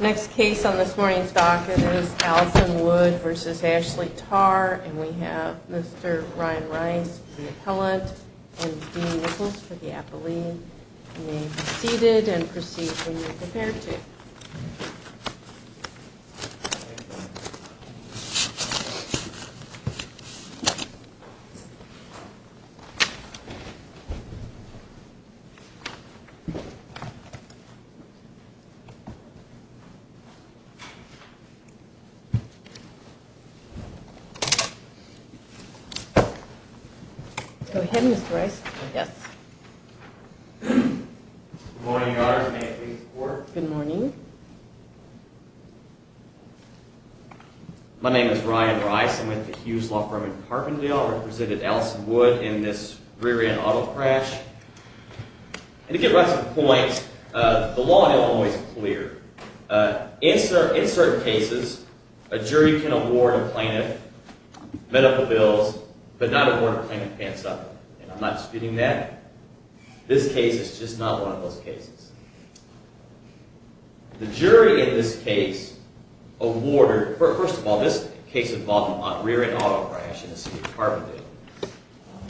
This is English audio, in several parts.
Next case on this morning's docket is Allison Wood v. Ashley Tarr, and we have Mr. Ryan Rice, the appellant, and Dean Nichols for the appellee. You may be seated and proceed when you're prepared to. Go ahead, Mr. Rice. Yes. Good morning, Your Honor. May I please report? Good morning. My name is Ryan Rice. I'm with the Hughes Law Firm in Carbondale. I represented Allison Wood in this rear-end auto crash. And to get right to the point, the law in Illinois is clear. In certain cases, a jury can award a plaintiff medical bills, but not award a plaintiff pants-up. And I'm not disputing that. This case is just not one of those cases. The jury in this case awarded – first of all, this case involved a rear-end auto crash in the city of Carbondale.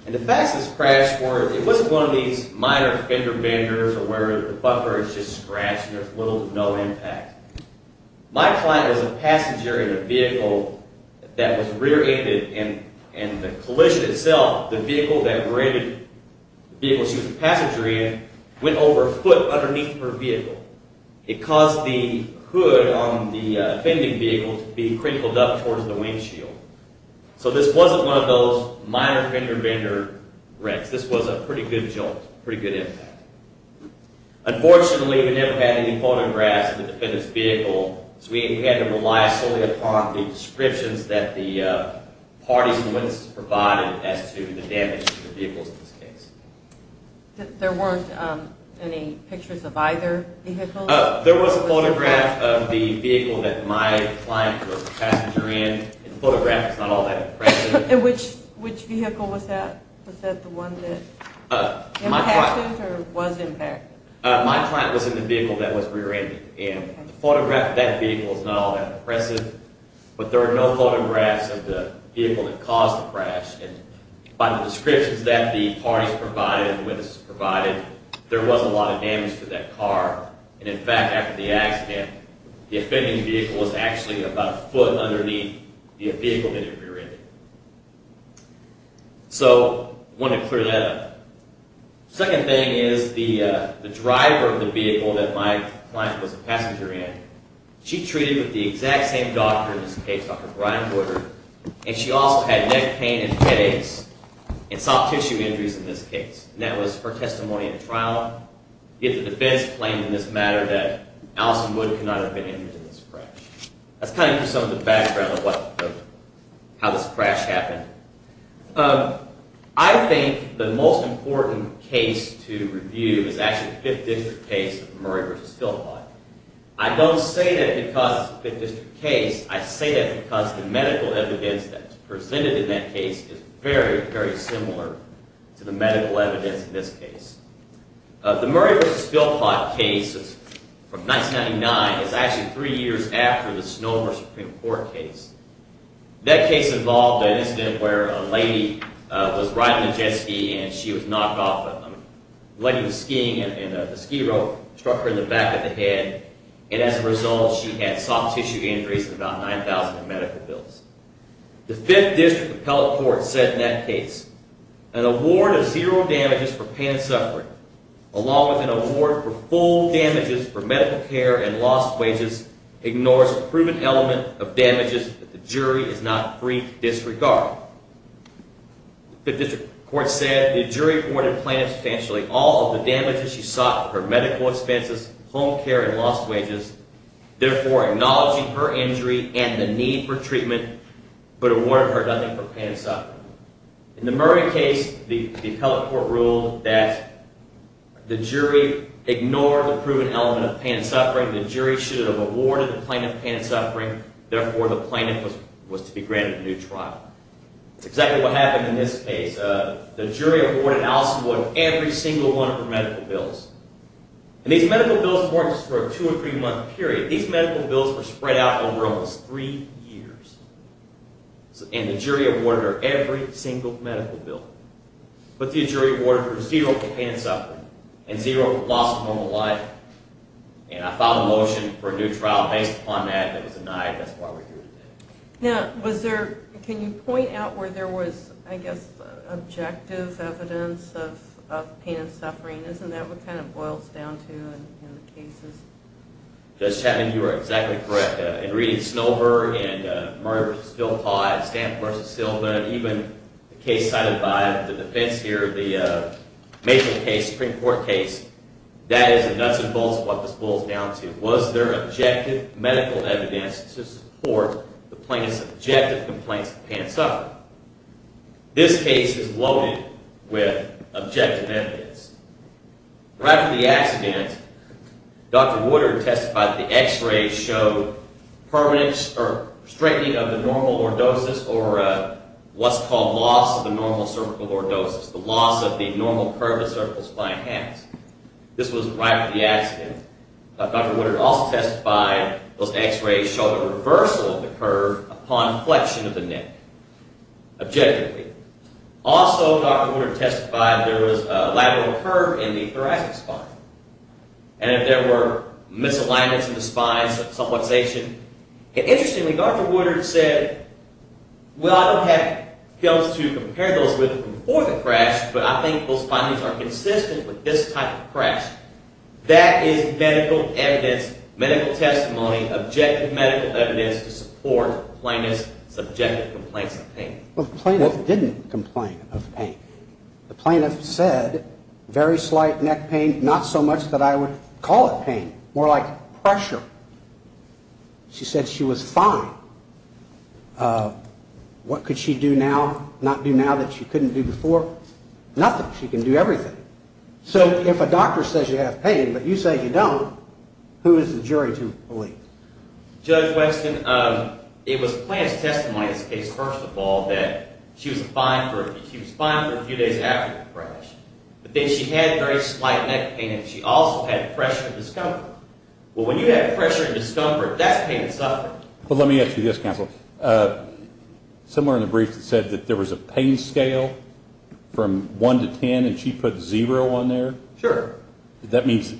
And the facts of this crash were it wasn't one of these minor fender benders where the bumper is just scratched and there's little to no impact. My client was a passenger in a vehicle that was rear-ended, and the collision itself, the vehicle that we're in, the vehicle she was a passenger in, went over a foot underneath her vehicle. It caused the hood on the offending vehicle to be crinkled up towards the windshield. So this wasn't one of those minor fender bender wrecks. This was a pretty good jolt, pretty good impact. Unfortunately, we never had any photographs of the defendant's vehicle, so we had to rely solely upon the descriptions that the parties and witnesses provided as to the damage to the vehicles in this case. There weren't any pictures of either vehicle? There was a photograph of the vehicle that my client was a passenger in. The photograph is not all that impressive. And which vehicle was that? Was that the one that impacted or was impacted? My client was in the vehicle that was rear-ended, and the photograph of that vehicle is not all that impressive. But there are no photographs of the vehicle that caused the crash. And by the descriptions that the parties provided and the witnesses provided, there was a lot of damage to that car. And in fact, after the accident, the offending vehicle was actually about a foot underneath the vehicle that it was rear-ended. So I wanted to clear that up. The second thing is the driver of the vehicle that my client was a passenger in, she treated with the exact same doctor in this case, Dr. Brian Porter. And she also had neck pain and headaches and soft tissue injuries in this case. And that was her testimony at trial. Yet the defense claimed in this matter that Allison Wood could not have been injured in this crash. That's kind of some of the background of how this crash happened. I think the most important case to review is actually the Fifth District case of Murray v. Philpott. I don't say that because it's a Fifth District case. I say that because the medical evidence that's presented in that case is very, very similar to the medical evidence in this case. The Murray v. Philpott case from 1999 is actually three years after the Snomer Supreme Court case. That case involved an incident where a lady was riding a jet ski and she was knocked off. The lady was skiing and the ski rope struck her in the back of the head. And as a result, she had soft tissue injuries and about $9,000 in medical bills. The Fifth District Appellate Court said in that case, An award of zero damages for pain and suffering, along with an award for full damages for medical care and lost wages, ignores a proven element of damages that the jury is not free to disregard. The Fifth District Court said, In the Murray case, the Appellate Court ruled that the jury ignored the proven element of pain and suffering. The jury should have awarded the plaintiff pain and suffering. Therefore, the plaintiff was to be granted a new trial. That's exactly what happened in this case. The jury awarded Allison Wood every single one of her medical bills. And these medical bills weren't just for a two- or three-month period. These medical bills were spread out over almost three years. And the jury awarded her every single medical bill. But the jury awarded her zero for pain and suffering and zero for loss of normal life. And I filed a motion for a new trial based upon that. It was denied. That's why we're here today. Now, was there – can you point out where there was, I guess, objective evidence of pain and suffering? Isn't that what kind of boils down to in the cases? Judge Chapman, you are exactly correct. In reading Snover and Murray v. Philpott, Stamp v. Silver, and even the case cited by the defense here, the major case, Supreme Court case, that is the nuts and bolts of what this boils down to. Was there objective medical evidence to support the plaintiff's objective complaints of pain and suffering? This case is loaded with objective evidence. Right from the accident, Dr. Woodard testified that the x-rays showed permanence or strengthening of the normal lordosis or what's called loss of the normal cervical lordosis, the loss of the normal curve the cervical spine has. This was right from the accident. Dr. Woodard also testified those x-rays showed a reversal of the curve upon flexion of the neck, objectively. Also, Dr. Woodard testified there was a lateral curve in the thoracic spine. And if there were misalignments in the spine, subluxation. Interestingly, Dr. Woodard said, well, I don't have pills to compare those with from before the crash, but I think those findings are consistent with this type of crash. That is medical evidence, medical testimony, objective medical evidence to support the plaintiff's subjective complaints of pain. The plaintiff didn't complain of pain. The plaintiff said very slight neck pain, not so much that I would call it pain, more like pressure. She said she was fine. What could she do now, not do now that she couldn't do before? Nothing. She can do everything. So if a doctor says you have pain but you say you don't, who is the jury to believe? Judge Weston, it was the plaintiff's testimony in this case, first of all, that she was fine for a few days after the crash. But then she had very slight neck pain and she also had pressure discomfort. Well, when you have pressure discomfort, that's pain and suffering. Well, let me ask you this, counsel. Somewhere in the brief it said that there was a pain scale from one to ten and she put zero on there. Sure. That means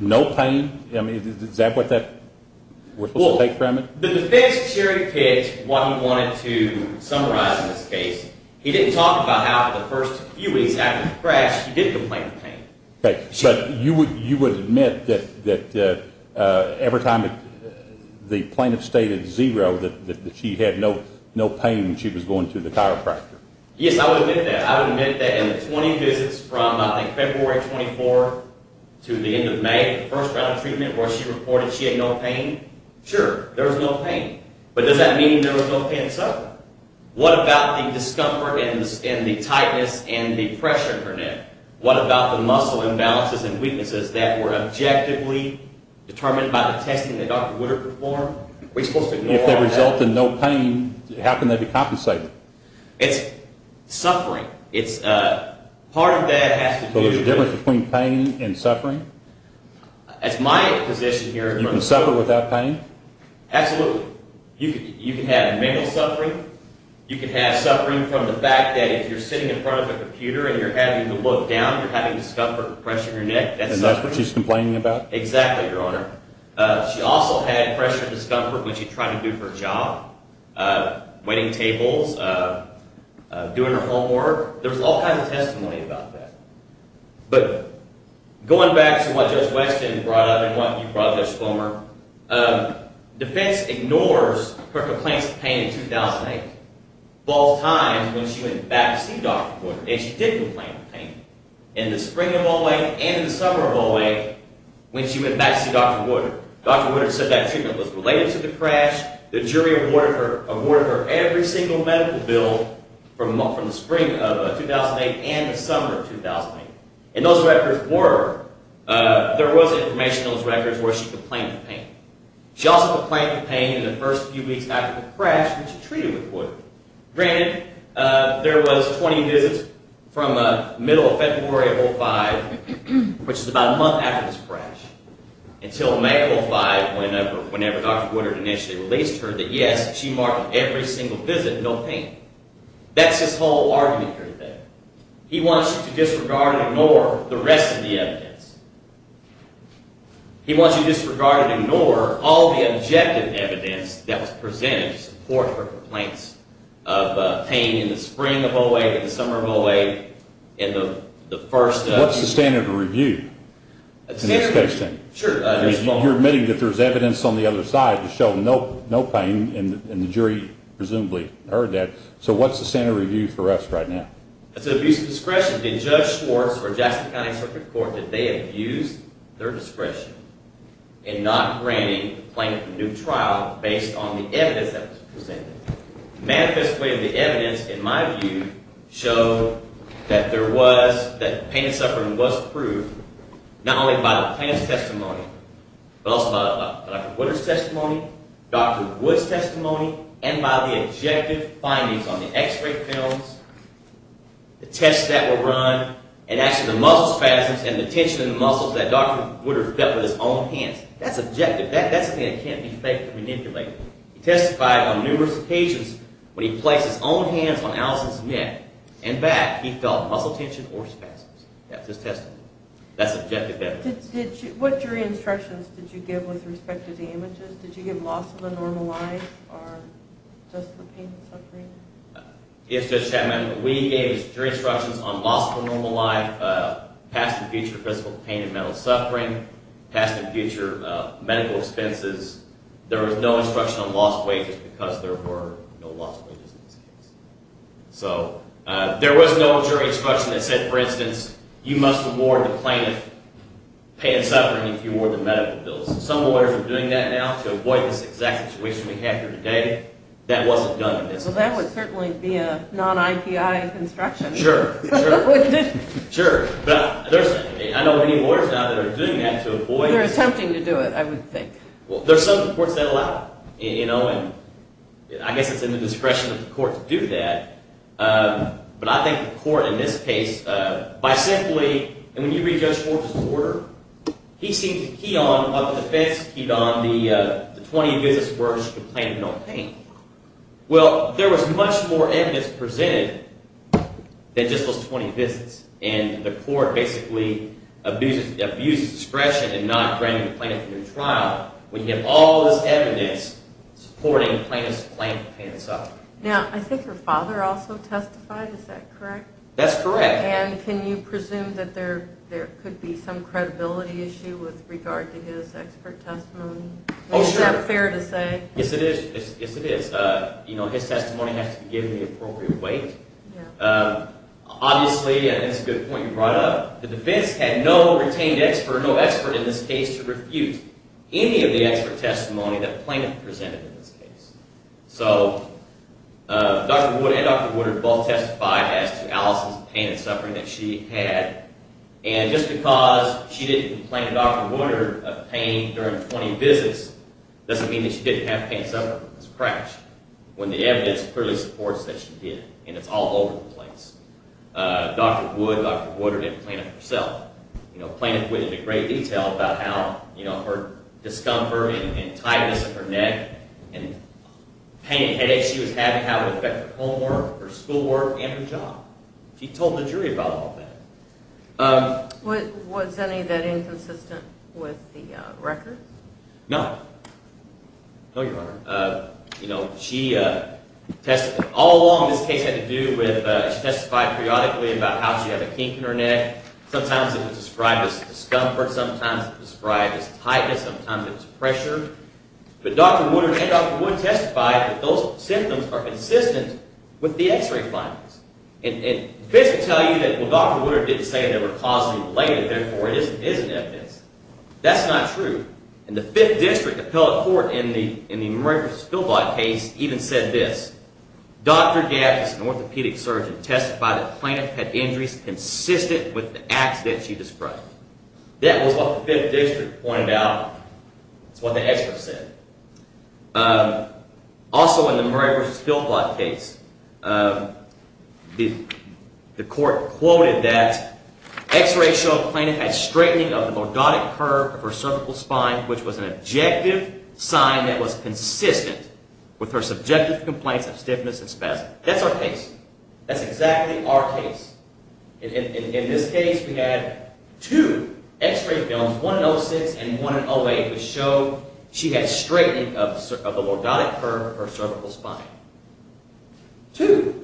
no pain? I mean, is that what that was supposed to take from it? Well, the defense jury did what he wanted to summarize in this case. He didn't talk about how for the first few weeks after the crash he did complain of pain. But you would admit that every time the plaintiff stated zero that she had no pain when she was going to the chiropractor? Yes, I would admit that. I would admit that in the 20 visits from, I think, February 24 to the end of May, the first round of treatment where she reported she had no pain, sure, there was no pain. But does that mean there was no pain and suffering? What about the discomfort and the tightness and the pressure in her neck? What about the muscle imbalances and weaknesses that were objectively determined by the testing that Dr. Woodard performed? If they result in no pain, how can they be compensated? It's suffering. So there's a difference between pain and suffering? That's my position here. You can suffer without pain? Absolutely. You can have mental suffering. You can have suffering from the fact that if you're sitting in front of a computer and you're having to look down, you're having discomfort and pressure in your neck. And that's what she's complaining about? Exactly, Your Honor. She also had pressure and discomfort when she tried to do her job, waiting tables, doing her homework. There's all kinds of testimony about that. But going back to what Judge Weston brought up and what you brought up, Judge Plummer, defense ignores her complaints of pain in 2008, both times when she went back to see Dr. Woodard. And she did complain of pain in the spring of 08 and the summer of 08 when she went back to see Dr. Woodard. Dr. Woodard said that treatment was related to the crash. The jury awarded her every single medical bill from the spring of 2008 and the summer of 2008. And those records were, there was information in those records where she complained of pain. She also complained of pain in the first few weeks after the crash when she treated with Woodard. Granted, there was 20 visits from the middle of February of 05, which is about a month after this crash, until May 05, whenever Dr. Woodard initially released her, that yes, she marked every single visit no pain. That's his whole argument right there. He wants you to disregard and ignore the rest of the evidence. He wants you to disregard and ignore all the objective evidence that was presented to support her complaints of pain in the spring of 08, in the summer of 08, in the first few weeks. What's the standard of review in this case then? You're admitting that there's evidence on the other side to show no pain, and the jury presumably heard that. So what's the standard of review for us right now? It's an abuse of discretion. Did Judge Schwartz or Jackson County Circuit Court, did they abuse their discretion in not granting the plaintiff a new trial based on the evidence that was presented? The manifest way of the evidence, in my view, showed that pain and suffering was proved, not only by the plaintiff's testimony, but also by Dr. Woodard's testimony, Dr. Wood's testimony, and by the objective findings on the x-ray films, the tests that were run, and actually the muscle spasms and the tension in the muscles that Dr. Woodard felt with his own hands. That's objective. That's something that can't be fake or manipulated. He testified on numerous occasions when he placed his own hands on Allison's neck and back, he felt muscle tension or spasms. That's his testimony. That's objective evidence. What jury instructions did you give with respect to the images? Did you give loss of the normal life or just the pain and suffering? Yes, Judge Chapman, we gave jury instructions on loss of the normal life, past and future physical pain and mental suffering, past and future medical expenses. There was no instruction on loss of wages because there were no loss of wages in this case. So there was no jury instruction that said, for instance, you must award the plaintiff pain and suffering if you award the medical bills. Some lawyers are doing that now to avoid this exact situation we have here today. That wasn't done in this case. Well, that would certainly be a non-IPI construction. Sure, sure, sure. I know many lawyers now that are doing that to avoid this. They're attempting to do it, I would think. Well, there are some courts that allow it, and I guess it's in the discretion of the court to do that. But I think the court in this case, by simply – and when you read Judge Horvitz's order, he seems to key on what the defense keyed on, the 20 visits where I should complain of no pain. Well, there was much more evidence presented than just those 20 visits, and the court basically abuses discretion in not granting the plaintiff a new trial when you have all this evidence supporting the plaintiff's complaint of pain and suffering. Now, I think your father also testified. Is that correct? That's correct. And can you presume that there could be some credibility issue with regard to his expert testimony? Oh, sure. Is that fair to say? Yes, it is. Yes, it is. His testimony has to be given the appropriate weight. Obviously, and it's a good point you brought up, the defense had no retained expert, no expert in this case to refute any of the expert testimony that the plaintiff presented in this case. So Dr. Wood and Dr. Wood have both testified as to Allison's pain and suffering that she had, and just because she didn't complain to Dr. Wood of pain during 20 visits doesn't mean that she didn't have pain and suffering from this crash, when the evidence clearly supports that she did, and it's all over the place. Dr. Wood and Dr. Wood didn't complain of it herself. The plaintiff went into great detail about how her discomfort and tightness in her neck and pain and headaches she was having had an effect on her homework, her schoolwork, and her job. She told the jury about all that. Was any of that inconsistent with the records? No. No, Your Honor. All along this case had to do with she testified periodically about how she had a kink in her neck. Sometimes it was described as discomfort. Sometimes it was described as tightness. Sometimes it was pressure. But Dr. Wood and Dr. Wood testified that those symptoms are consistent with the X-ray findings. And the defense will tell you that, well, Dr. Wood didn't say they were causally related, therefore it isn't evidence. That's not true. And the Fifth District appellate court in the Murray v. Spielblatt case even said this. That was what the Fifth District pointed out. That's what the experts said. Also in the Murray v. Spielblatt case, the court quoted that which was an objective sign that was consistent with her subjective complaints of stiffness and spasms. That's our case. That's exactly our case. In this case we had two X-ray films, one in 06 and one in 08, which showed she had straightening of the lordotic curve of her cervical spine. Two.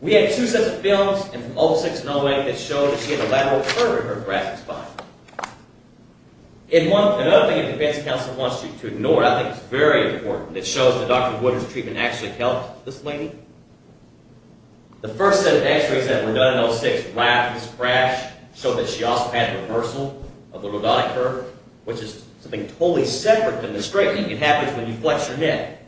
We had two sets of films in 06 and 08 that showed that she had a lateral curve in her thoracic spine. Another thing the defense counsel wants you to ignore, I think it's very important, it shows that Dr. Woodard's treatment actually helped this lady. The first set of X-rays that were done in 06, wrapped this crash, showed that she also had reversal of the lordotic curve, which is something totally separate from the straightening. It happens when you flex your neck.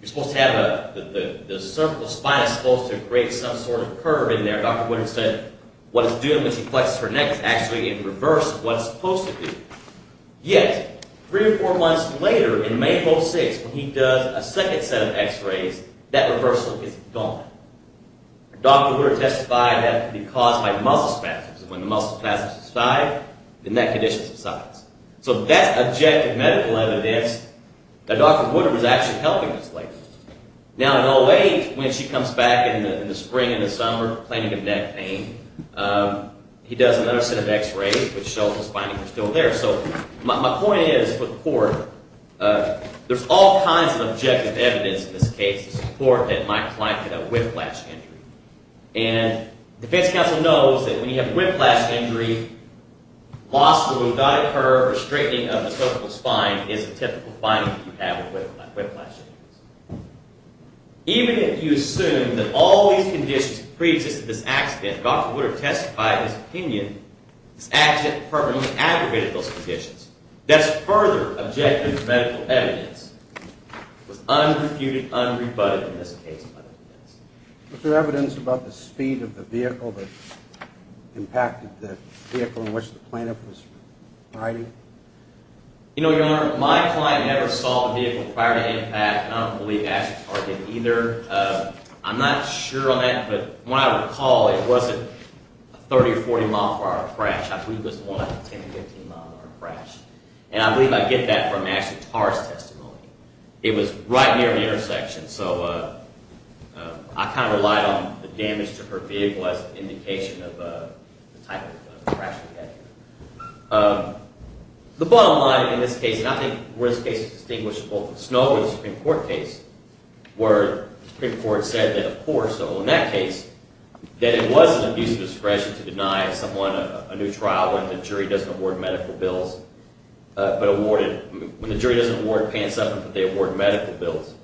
The cervical spine is supposed to create some sort of curve in there. Dr. Woodard said what it's doing when she flexes her neck is actually in reverse of what it's supposed to do. Yet, three or four months later, in May of 06, when he does a second set of X-rays, that reversal is gone. Dr. Woodard testified that it could be caused by muscle spasms. When the muscle spasms subside, the neck condition subsides. So that's objective medical evidence that Dr. Woodard was actually helping this lady. In 08, when she comes back in the spring and the summer, complaining of neck pain, he does another set of X-rays, which shows the spinae are still there. My point is, there's all kinds of objective evidence in this case to support that my client had a whiplash injury. The defense counsel knows that when you have a whiplash injury, loss of the lumbatic curve or straightening of the cervical spine is a typical finding that you have with whiplash injuries. Even if you assume that all these conditions pre-existed this accident, Dr. Woodard testified his opinion, this accident permanently aggravated those conditions. That's further objective medical evidence that was unrefuted, unrebutted in this case by the defense. Is there evidence about the speed of the vehicle that impacted the vehicle in which the plaintiff was riding? You know, Your Honor, my client never saw the vehicle prior to impact. I don't believe Ashley's target either. I'm not sure on that, but when I recall, it wasn't a 30 or 40 mile per hour crash. I believe it was more like a 10 or 15 mile per hour crash. And I believe I get that from Ashley Tarr's testimony. It was right near an intersection, so I kind of relied on the damage to her vehicle as an indication of the type of crash we had here. The bottom line in this case, and I think where this case is distinguished, both the Snow and the Supreme Court case, where the Supreme Court said that, of course, in that case, that it was an abuse of discretion to deny someone a new trial when the jury doesn't award medical bills, but when the jury doesn't award pants up and they award medical bills.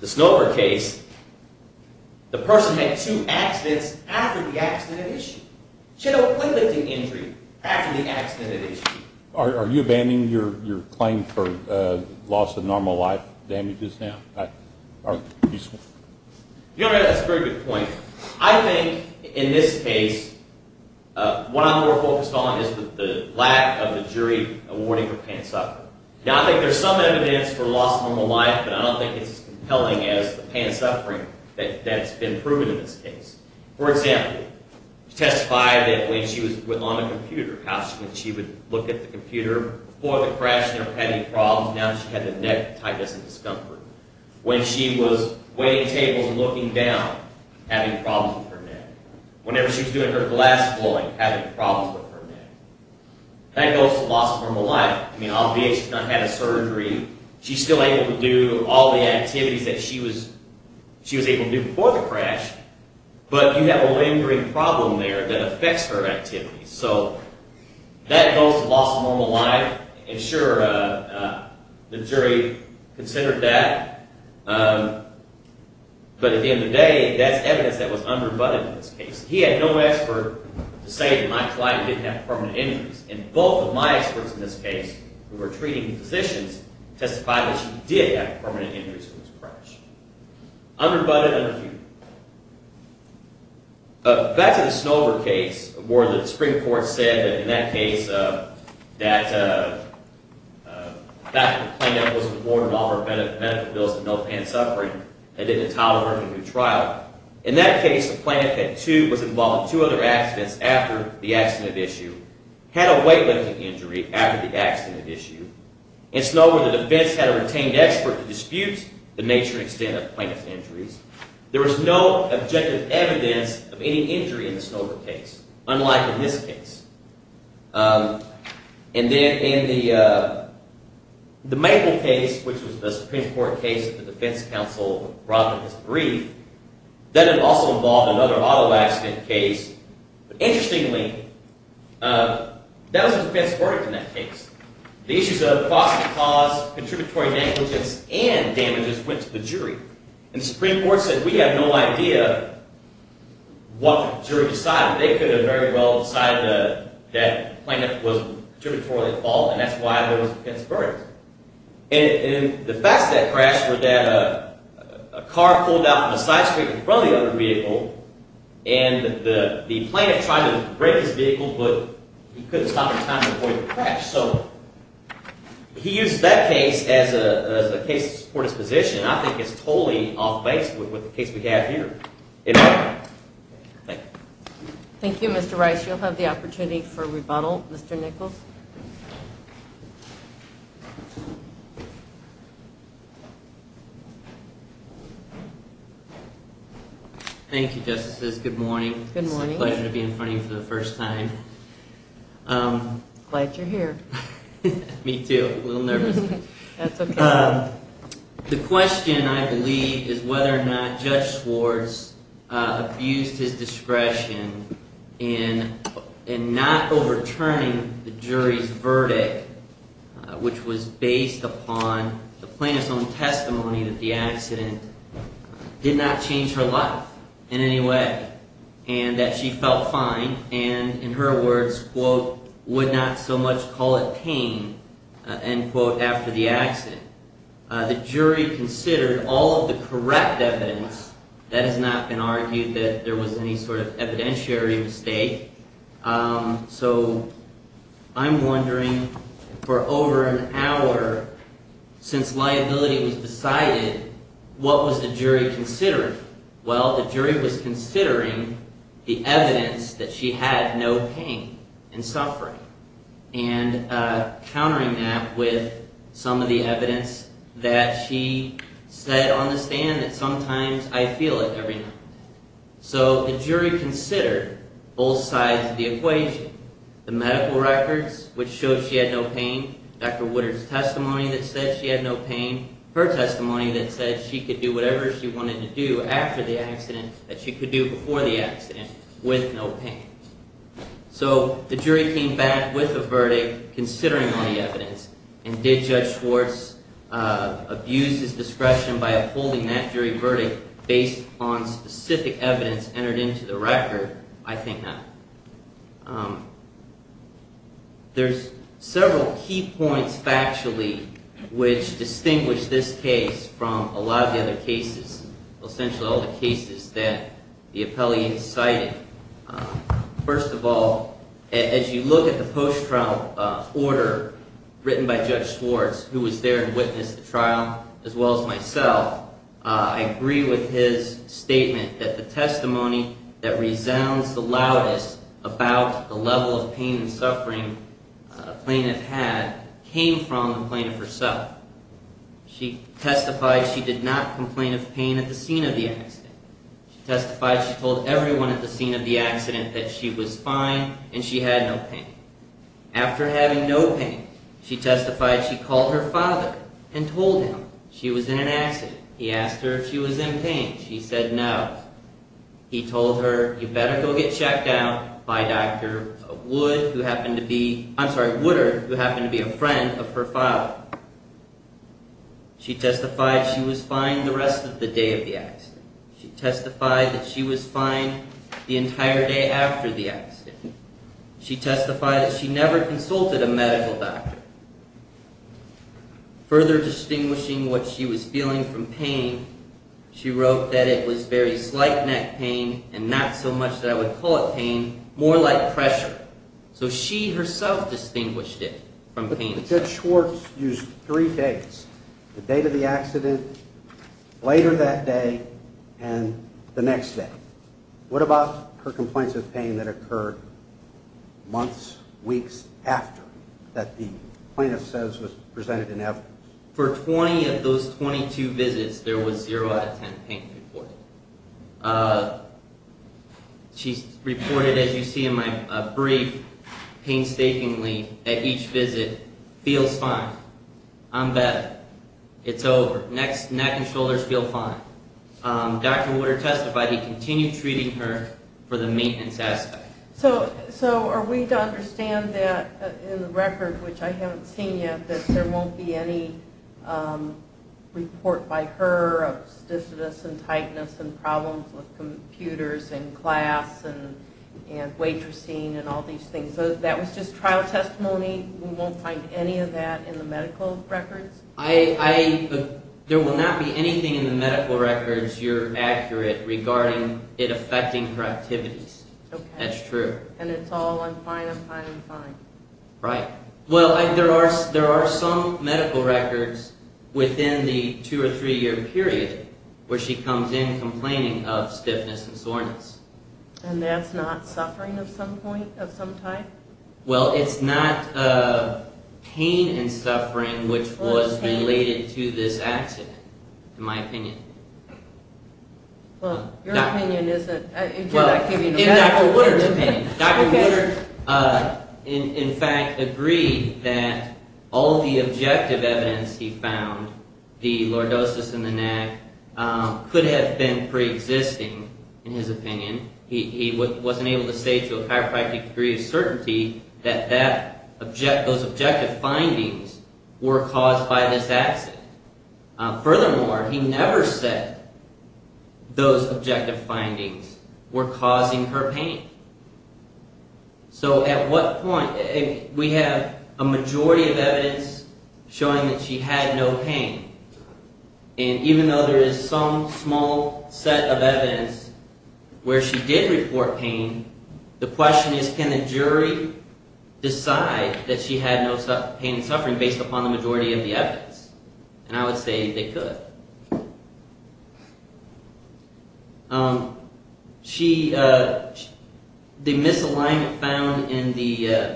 The Snover case, the person made two accidents after the accident had issued. She had a weight lifting injury after the accident had issued. Are you abandoning your claim for loss of normal life damages now? Your Honor, that's a very good point. I think in this case, what I'm more focused on is the lack of the jury awarding her pants up. Now, I think there's some evidence for loss of normal life, but I don't think it's as compelling as the pants up ring that's been proven in this case. For example, you testified that when she was on the computer, how she would look at the computer before the crash and never had any problems. Now she had the neck tightness and discomfort. When she was waiting tables and looking down, having problems with her neck. Whenever she was doing her glass blowing, having problems with her neck. That goes to loss of normal life. I mean, obviously, she's not had a surgery. She's still able to do all the activities that she was able to do before the crash, but you have a lingering problem there that affects her activities. So that goes to loss of normal life. And sure, the jury considered that, but at the end of the day, that's evidence that was underbutted in this case. He had no expert to say that my client didn't have permanent injuries, and both of my experts in this case, who were treating physicians, testified that she did have permanent injuries from this crash. Underbutted and refuted. Back to the Snover case where the Supreme Court said that in that case that the plaintiff was informed of all her medical bills and no apparent suffering and didn't tolerate a new trial. In that case, the plaintiff was involved in two other accidents after the accident issue, had a weight lifting injury after the accident issue. In Snover, the defense had a retained expert to dispute the nature and extent of the plaintiff's injuries. There was no objective evidence of any injury in the Snover case, unlike in this case. And then in the Maple case, which was the Supreme Court case that the defense counsel brought to his brief, that had also involved another auto accident case. Interestingly, that was the defense's verdict in that case. The issues of cost and cause, contributory negligence, and damages went to the jury. And the Supreme Court said we have no idea what the jury decided. They could have very well decided that the plaintiff was contributorily at fault, and that's why there was a defense's verdict. And the facts of that crash were that a car pulled out from the side street in front of the other vehicle, and the plaintiff tried to break his vehicle, but he couldn't stop in time to avoid the crash. So he used that case as a case to support his position, and I think it's totally off-base with the case we have here. Thank you. Thank you, Mr. Rice. You'll have the opportunity for rebuttal. Mr. Nichols. Thank you, Justices. Good morning. Good morning. It's a pleasure to be in front of you for the first time. Glad you're here. Me too. A little nervous. That's okay. The question, I believe, is whether or not Judge Swartz abused his discretion in not overturning the jury's verdict, which was based upon the plaintiff's own testimony that the accident did not change her life in any way and that she felt fine and, in her words, quote, would not so much call it pain, end quote, after the accident. The jury considered all of the correct evidence. That has not been argued that there was any sort of evidentiary mistake. So I'm wondering, for over an hour since liability was decided, what was the jury considering? Well, the jury was considering the evidence that she had no pain and suffering and countering that with some of the evidence that she said on the stand that sometimes I feel it every night. So the jury considered both sides of the equation, the medical records, which showed she had no pain, Dr. Woodard's testimony that said she had no pain, and her testimony that said she could do whatever she wanted to do after the accident that she could do before the accident with no pain. So the jury came back with a verdict considering all the evidence, and did Judge Swartz abuse his discretion by upholding that jury verdict based on specific evidence entered into the record? I think not. There's several key points factually which distinguish this case from a lot of the other cases, essentially all the cases that the appellee incited. First of all, as you look at the post-trial order written by Judge Swartz, who was there and witnessed the trial, as well as myself, I agree with his statement that the testimony that resounds the loudest about the level of pain and suffering a plaintiff had came from the plaintiff herself. She testified she did not complain of pain at the scene of the accident. She testified she told everyone at the scene of the accident that she was fine and she had no pain. After having no pain, she testified she called her father and told him she was in an accident. He asked her if she was in pain. She said no. He told her, you better go get checked out by Dr. Wood, who happened to be, I'm sorry, Woodard, who happened to be a friend of her father. She testified she was fine the rest of the day of the accident. She testified that she was fine the entire day after the accident. She testified that she never consulted a medical doctor. Further distinguishing what she was feeling from pain, she wrote that it was very slight neck pain and not so much that I would call it pain, more like pressure. So she herself distinguished it from pain. Judge Schwartz used three days, the date of the accident, later that day, and the next day. What about her complaints of pain that occurred months, weeks after that the plaintiff says was presented in evidence? For 20 of those 22 visits, there was zero out of 10 pain reported. She reported, as you see in my brief, painstakingly at each visit, feels fine. I'm better. It's over. Neck and shoulders feel fine. Dr. Woodard testified he continued treating her for the maintenance aspect. So are we to understand that in the record, which I haven't seen yet, that there won't be any report by her of stichitis and tightness and problems with computers and class and waitressing and all these things? That was just trial testimony? We won't find any of that in the medical records? There will not be anything in the medical records you're accurate regarding it affecting her activities. Okay. That's true. And it's all, I'm fine, I'm fine, I'm fine. Right. Well, there are some medical records within the two- or three-year period where she comes in complaining of stiffness and soreness. And that's not suffering of some point, of some type? Well, it's not pain and suffering which was related to this accident, in my opinion. Well, your opinion is that, if you're not giving a medical opinion. Well, in Dr. Woodard's opinion. Dr. Woodard, in fact, agreed that all the objective evidence he found, the lordosis in the neck, could have been preexisting, in his opinion. He wasn't able to say to a chiropractic degree of certainty that those objective findings were caused by this accident. Furthermore, he never said those objective findings were causing her pain. So at what point, if we have a majority of evidence showing that she had no pain, and even though there is some small set of evidence where she did report pain, the question is, can the jury decide that she had no pain and suffering based upon the majority of the evidence? And I would say they could. She, the misalignment found in the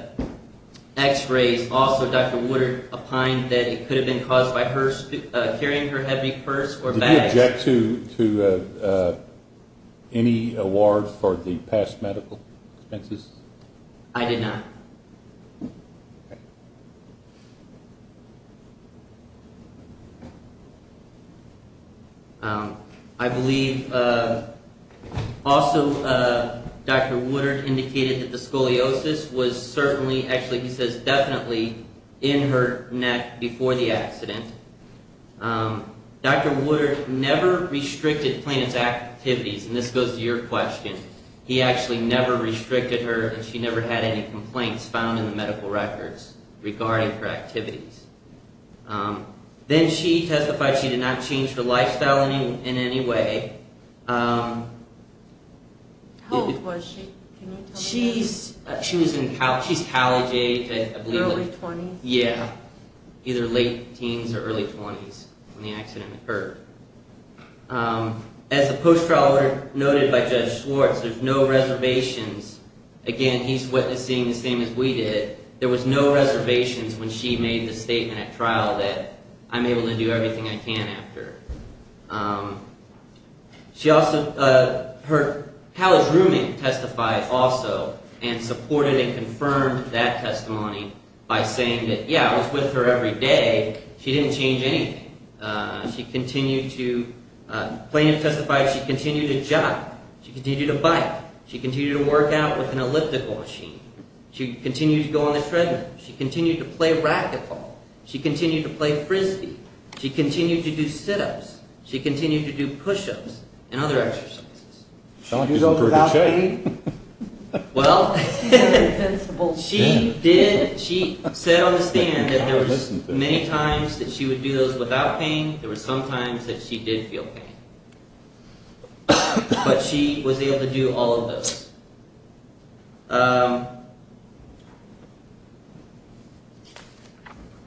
x-rays, also Dr. Woodard opined that it could have been caused by her carrying her heavy purse or bag. Did you object to any award for the past medical expenses? I did not. Okay. I believe also Dr. Woodard indicated that the scoliosis was certainly, actually he says definitely, in her neck before the accident. Dr. Woodard never restricted plaintiff's activities, and this goes to your question. He actually never restricted her and she never had any complaints found in the medical records regarding her activities. Then she testified she did not change her lifestyle in any way. How old was she? She was in college age, I believe. Early 20s? Yeah. Either late teens or early 20s when the accident occurred. As the post-trial lawyer noted by Judge Schwartz, there's no reservations. Again, he's witnessing the same as we did. There was no reservations when she made the statement at trial that I'm able to do everything I can after. She also, her college roommate testified also and supported and confirmed that testimony by saying that, yeah, I was with her every day. She didn't change anything. She continued to, plaintiff testified she continued to jog. She continued to bike. She continued to work out with an elliptical machine. She continued to go on the treadmill. She continued to play racquetball. She continued to play frisbee. She continued to do sit-ups. She continued to do push-ups and other exercises. She was over happy. Well, she did, she said on the stand that there was many times that she would do those without pain. There were some times that she did feel pain. But she was able to do all of those.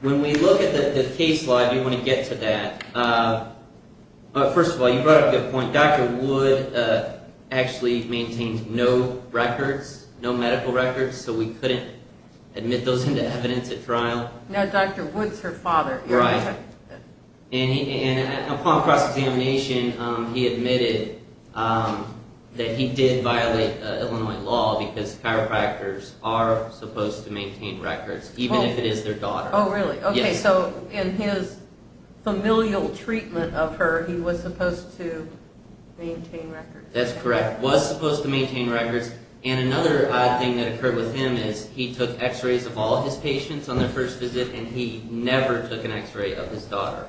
When we look at the case law, I do want to get to that. First of all, you brought up a good point. Dr. Wood actually maintained no records, no medical records, so we couldn't admit those into evidence at trial. No, Dr. Wood's her father. Right. And upon cross-examination, he admitted that he did violate Illinois law because chiropractors are supposed to maintain records, even if it is their daughter. Oh, really? Yes. Okay, so in his familial treatment of her, he was supposed to maintain records. That's correct, was supposed to maintain records. And another odd thing that occurred with him is he took x-rays of all his patients on their first visit, and he never took an x-ray of his daughter,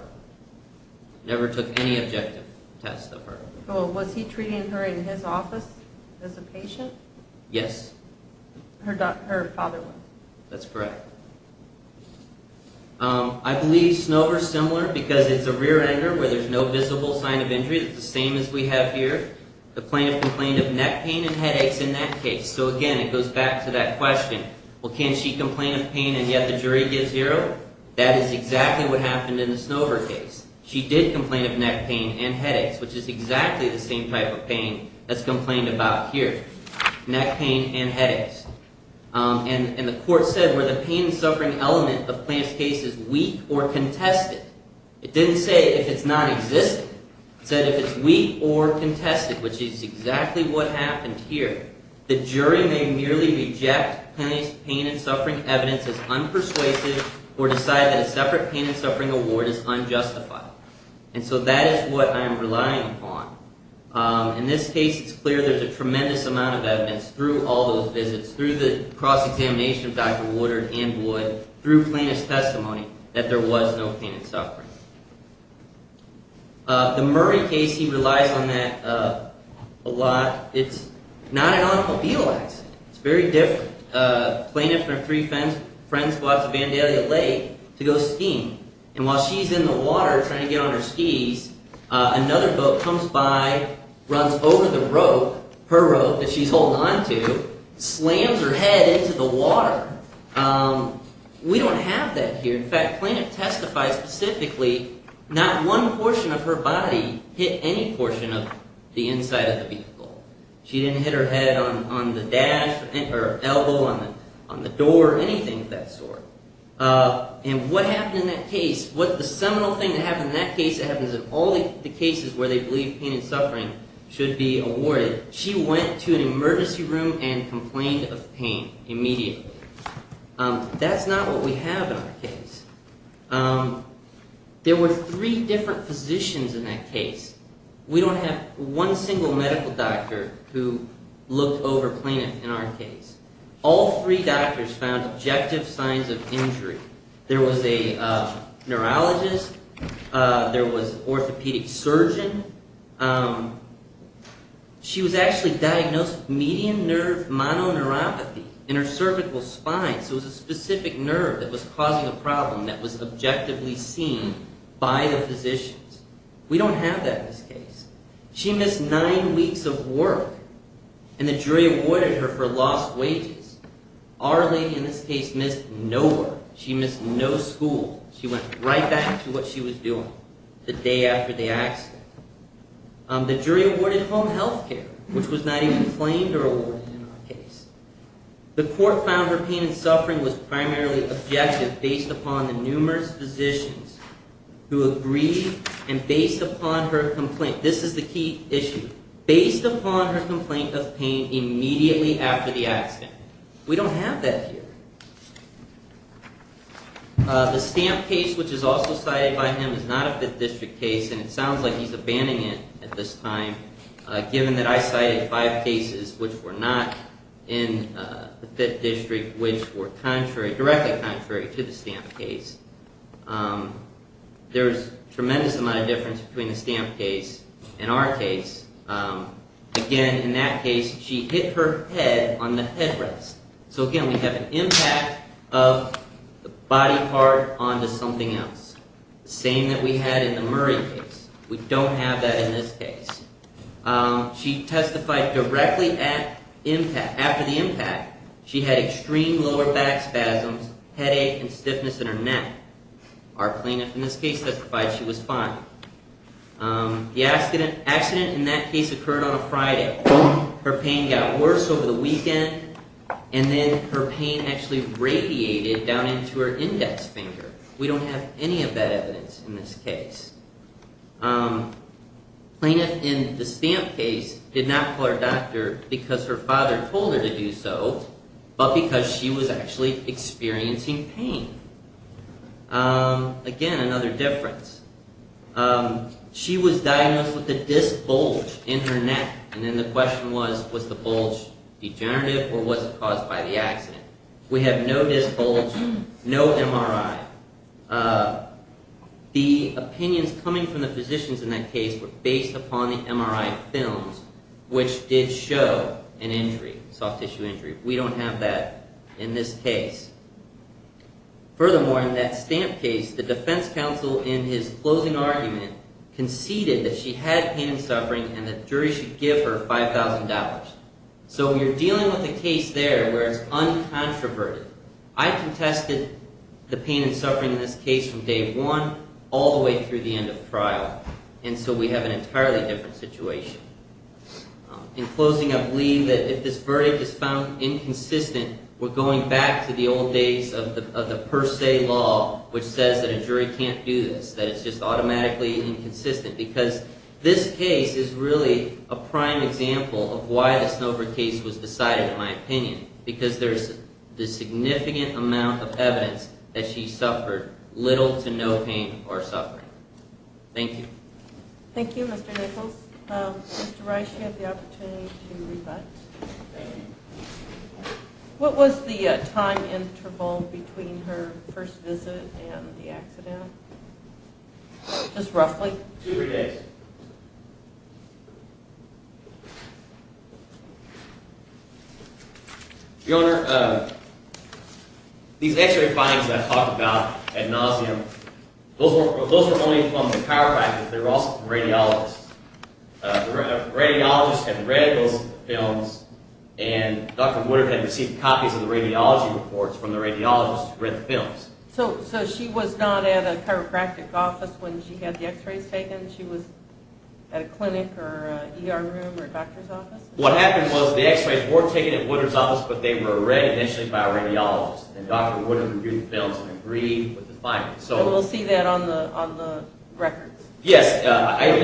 never took any objective tests of her. Well, was he treating her in his office as a patient? Yes. Her father was. That's correct. I believe Snover's similar because it's a rear-ender where there's no visible sign of injury. It's the same as we have here. The plaintiff complained of neck pain and headaches in that case. So again, it goes back to that question, well, can she complain of pain and yet the jury gives zero? That is exactly what happened in the Snover case. She did complain of neck pain and headaches, which is exactly the same type of pain that's complained about here, neck pain and headaches. And the court said, were the pain and suffering element of Plante's case weak or contested? It didn't say if it's nonexistent. It said if it's weak or contested, which is exactly what happened here, the jury may merely reject Plante's pain and suffering evidence as unpersuasive or decide that a separate pain and suffering award is unjustified. And so that is what I am relying upon. In this case, it's clear there's a tremendous amount of evidence through all those visits, through the cross-examination of Dr. Woodard and Wood, through Plante's testimony, that there was no pain and suffering. The Murray case, he relies on that a lot. It's not an automobile accident. It's very different. Plante and her three friends watched Vandalia Lake to go skiing. And while she's in the water trying to get on her skis, another boat comes by, runs over the rope, her rope that she's holding onto, slams her head into the water. We don't have that here. In fact, Plante testified specifically not one portion of her body hit any portion of the inside of the vehicle. She didn't hit her head on the dash or elbow on the door or anything of that sort. And what happened in that case, what the seminal thing that happened in that case that happens in all the cases where they believe pain and suffering should be awarded, she went to an emergency room and complained of pain immediately. That's not what we have in our case. There were three different physicians in that case. We don't have one single medical doctor who looked over Plante in our case. All three doctors found objective signs of injury. There was a neurologist. There was an orthopedic surgeon. She was actually diagnosed with median nerve mononeuropathy in her cervical spine. So it was a specific nerve that was causing a problem that was objectively seen by the physicians. We don't have that in this case. She missed nine weeks of work, and the jury awarded her for lost wages. Our lady in this case missed no work. She missed no school. She went right back to what she was doing the day after the accident. The jury awarded home health care, which was not even claimed or awarded in our case. The court found her pain and suffering was primarily objective based upon the numerous physicians who agreed and based upon her complaint. This is the key issue. Based upon her complaint of pain immediately after the accident. We don't have that here. The Stamp case, which is also cited by him, is not a Fifth District case, and it sounds like he's abandoning it at this time, given that I cited five cases which were not in the Fifth District, which were directly contrary to the Stamp case. There's a tremendous amount of difference between the Stamp case and our case. Again, in that case, she hit her head on the headrest. So again, we have an impact of the body part onto something else. The same that we had in the Murray case. We don't have that in this case. She testified directly after the impact. She had extreme lower back spasms, headache, and stiffness in her neck. Our plaintiff in this case testified she was fine. The accident in that case occurred on a Friday. Her pain got worse over the weekend, and then her pain actually radiated down into her index finger. We don't have any of that evidence in this case. The plaintiff in the Stamp case did not call her doctor because her father told her to do so, but because she was actually experiencing pain. Again, another difference. She was diagnosed with a disc bulge in her neck, and then the question was, was the bulge degenerative or was it caused by the accident? We have no disc bulge, no MRI. The opinions coming from the physicians in that case were based upon the MRI films, which did show an injury, soft tissue injury. We don't have that in this case. Furthermore, in that Stamp case, the defense counsel in his closing argument conceded that she had pain and suffering and the jury should give her $5,000. So you're dealing with a case there where it's uncontroverted. I contested the pain and suffering in this case from day one all the way through the end of trial, and so we have an entirely different situation. In closing, I believe that if this verdict is found inconsistent, we're going back to the old days of the per se law, which says that a jury can't do this, that it's just automatically inconsistent, because this case is really a prime example of why the Snover case was decided, in my opinion, because there's the significant amount of evidence that she suffered little to no pain or suffering. Thank you. Thank you, Mr. Nichols. Mr. Rice, you have the opportunity to rebut. What was the time interval between her first visit and the accident? Just roughly? Two or three days. Your Honor, these x-ray findings that I talked about at nauseam, those were only from the chiropractors. They were also from radiologists. The radiologists had read those films, and Dr. Woodard had received copies of the radiology reports from the radiologists who read the films. So she was not at a chiropractic office when she had the x-rays taken? She was at a clinic or an ER room or a doctor's office? What happened was the x-rays were taken at Woodard's office, but they were read initially by a radiologist, and Dr. Woodard reviewed the films and agreed with the findings. And we'll see that on the records? Yes, I even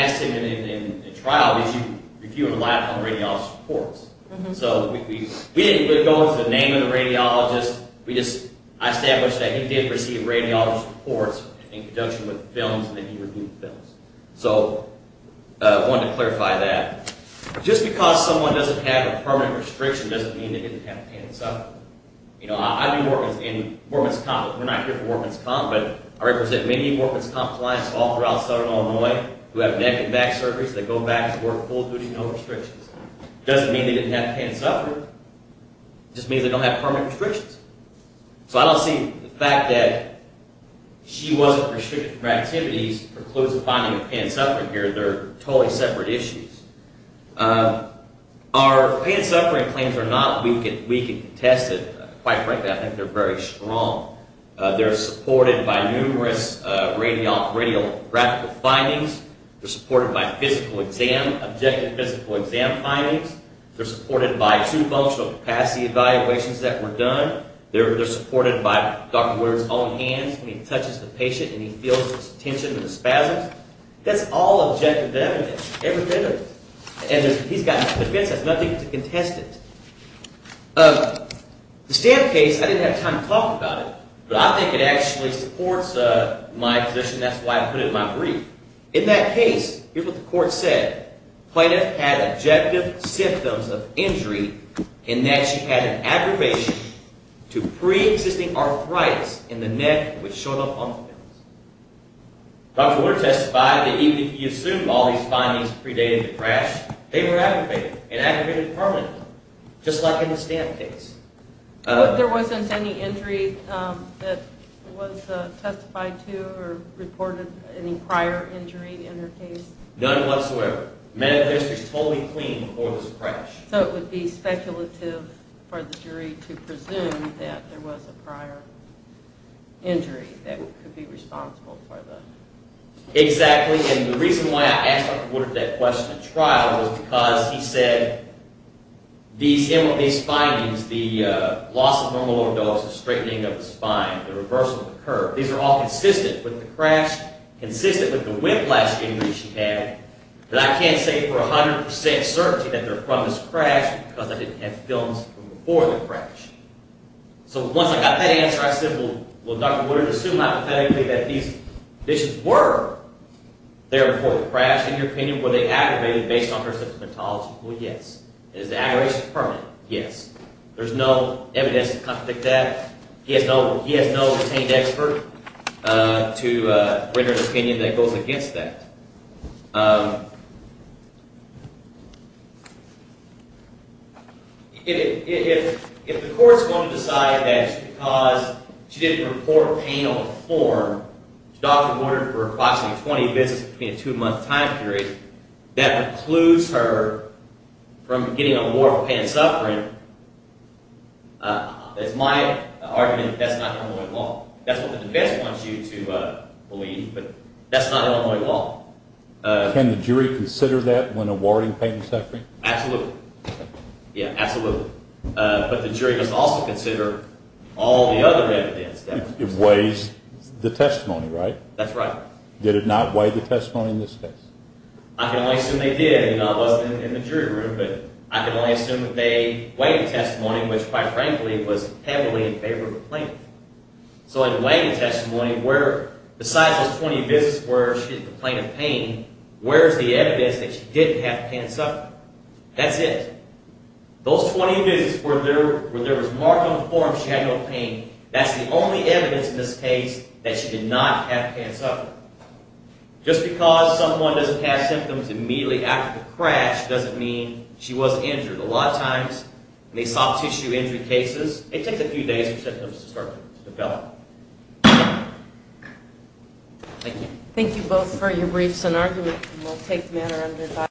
asked him in trial, did you review a lot of the radiologist's reports? So we didn't go into the name of the radiologist. We just established that he did receive radiologist's reports in conjunction with the films, and then he reviewed the films. So I wanted to clarify that. Just because someone doesn't have a permanent restriction doesn't mean they didn't have pain and suffering. You know, I do orphans in Orphan's Comp, but we're not here for Orphan's Comp, but I represent many Orphan's Comp clients all throughout Southern Illinois who have neck and back surgeries that go back to work full-duty, no restrictions. It doesn't mean they didn't have pain and suffering. It just means they don't have permanent restrictions. So I don't see the fact that she wasn't restricted from her activities precludes the finding of pain and suffering here. They're totally separate issues. Our pain and suffering claims are not weak and contested. Quite frankly, I think they're very strong. They're supported by numerous radiographical findings. They're supported by physical exam, objective physical exam findings. They're supported by two functional capacity evaluations that were done. They're supported by Dr. Woodard's own hands. When he touches the patient and he feels this tension and the spasms, that's all objective evidence, everything of it. And he's got nothing to contest it. The stamp case, I didn't have time to talk about it, but I think it actually supports my position. That's why I put it in my brief. In that case, here's what the court said. The plaintiff had objective symptoms of injury in that she had an aggravation to preexisting arthritis in the neck which showed up on the fence. Dr. Woodard testified that even if he assumed all these findings predated the crash, they were aggravated and aggravated permanently, just like in the stamp case. There wasn't any injury that was testified to or reported any prior injury in her case? None whatsoever. The medical history is totally clean before this crash. So it would be speculative for the jury to presume that there was a prior injury that could be responsible for the... Exactly, and the reason why I asked Dr. Woodard that question at trial was because he said these findings, the loss of normal lordosis, straightening of the spine, the reversal of the curve, these are all consistent with the crash, consistent with the whiplash injury she had, that I can't say for 100% certainty that they're from this crash because I didn't have films from before the crash. So once I got that answer, I said, well, Dr. Woodard assumed hypothetically that these conditions were there before the crash. In your opinion, were they aggravated based on her symptomatology? Well, yes. Is the aggravation permanent? Yes. There's no evidence to contradict that. He has no pertained expert to render an opinion that goes against that. If the court's going to decide that it's because she didn't report pain on form, Dr. Woodard for a class of 20 visits between a two-month time period, that precludes her from getting a warrant for pain and suffering, it's my argument that that's not Illinois law. That's what the defense wants you to believe, but that's not Illinois law. Can the jury consider that when awarding pain and suffering? Absolutely. Yeah, absolutely. But the jury must also consider all the other evidence. It weighs the testimony, right? That's right. Did it not weigh the testimony in this case? I can only assume they did. I wasn't in the jury room, but I can only assume that they weighed the testimony, which, quite frankly, was heavily in favor of the plaintiff. So in weighing the testimony, besides those 20 visits where she complained of pain, where's the evidence that she didn't have pain and suffering? That's it. Those 20 visits where there was mark on the form she had no pain, that's the only evidence in this case that she did not have pain and suffering. Just because someone doesn't have symptoms immediately after the crash doesn't mean she wasn't injured. A lot of times in these soft-tissue injury cases, it takes a few days for symptoms to start to develop. Thank you. Thank you both for your briefs and argument.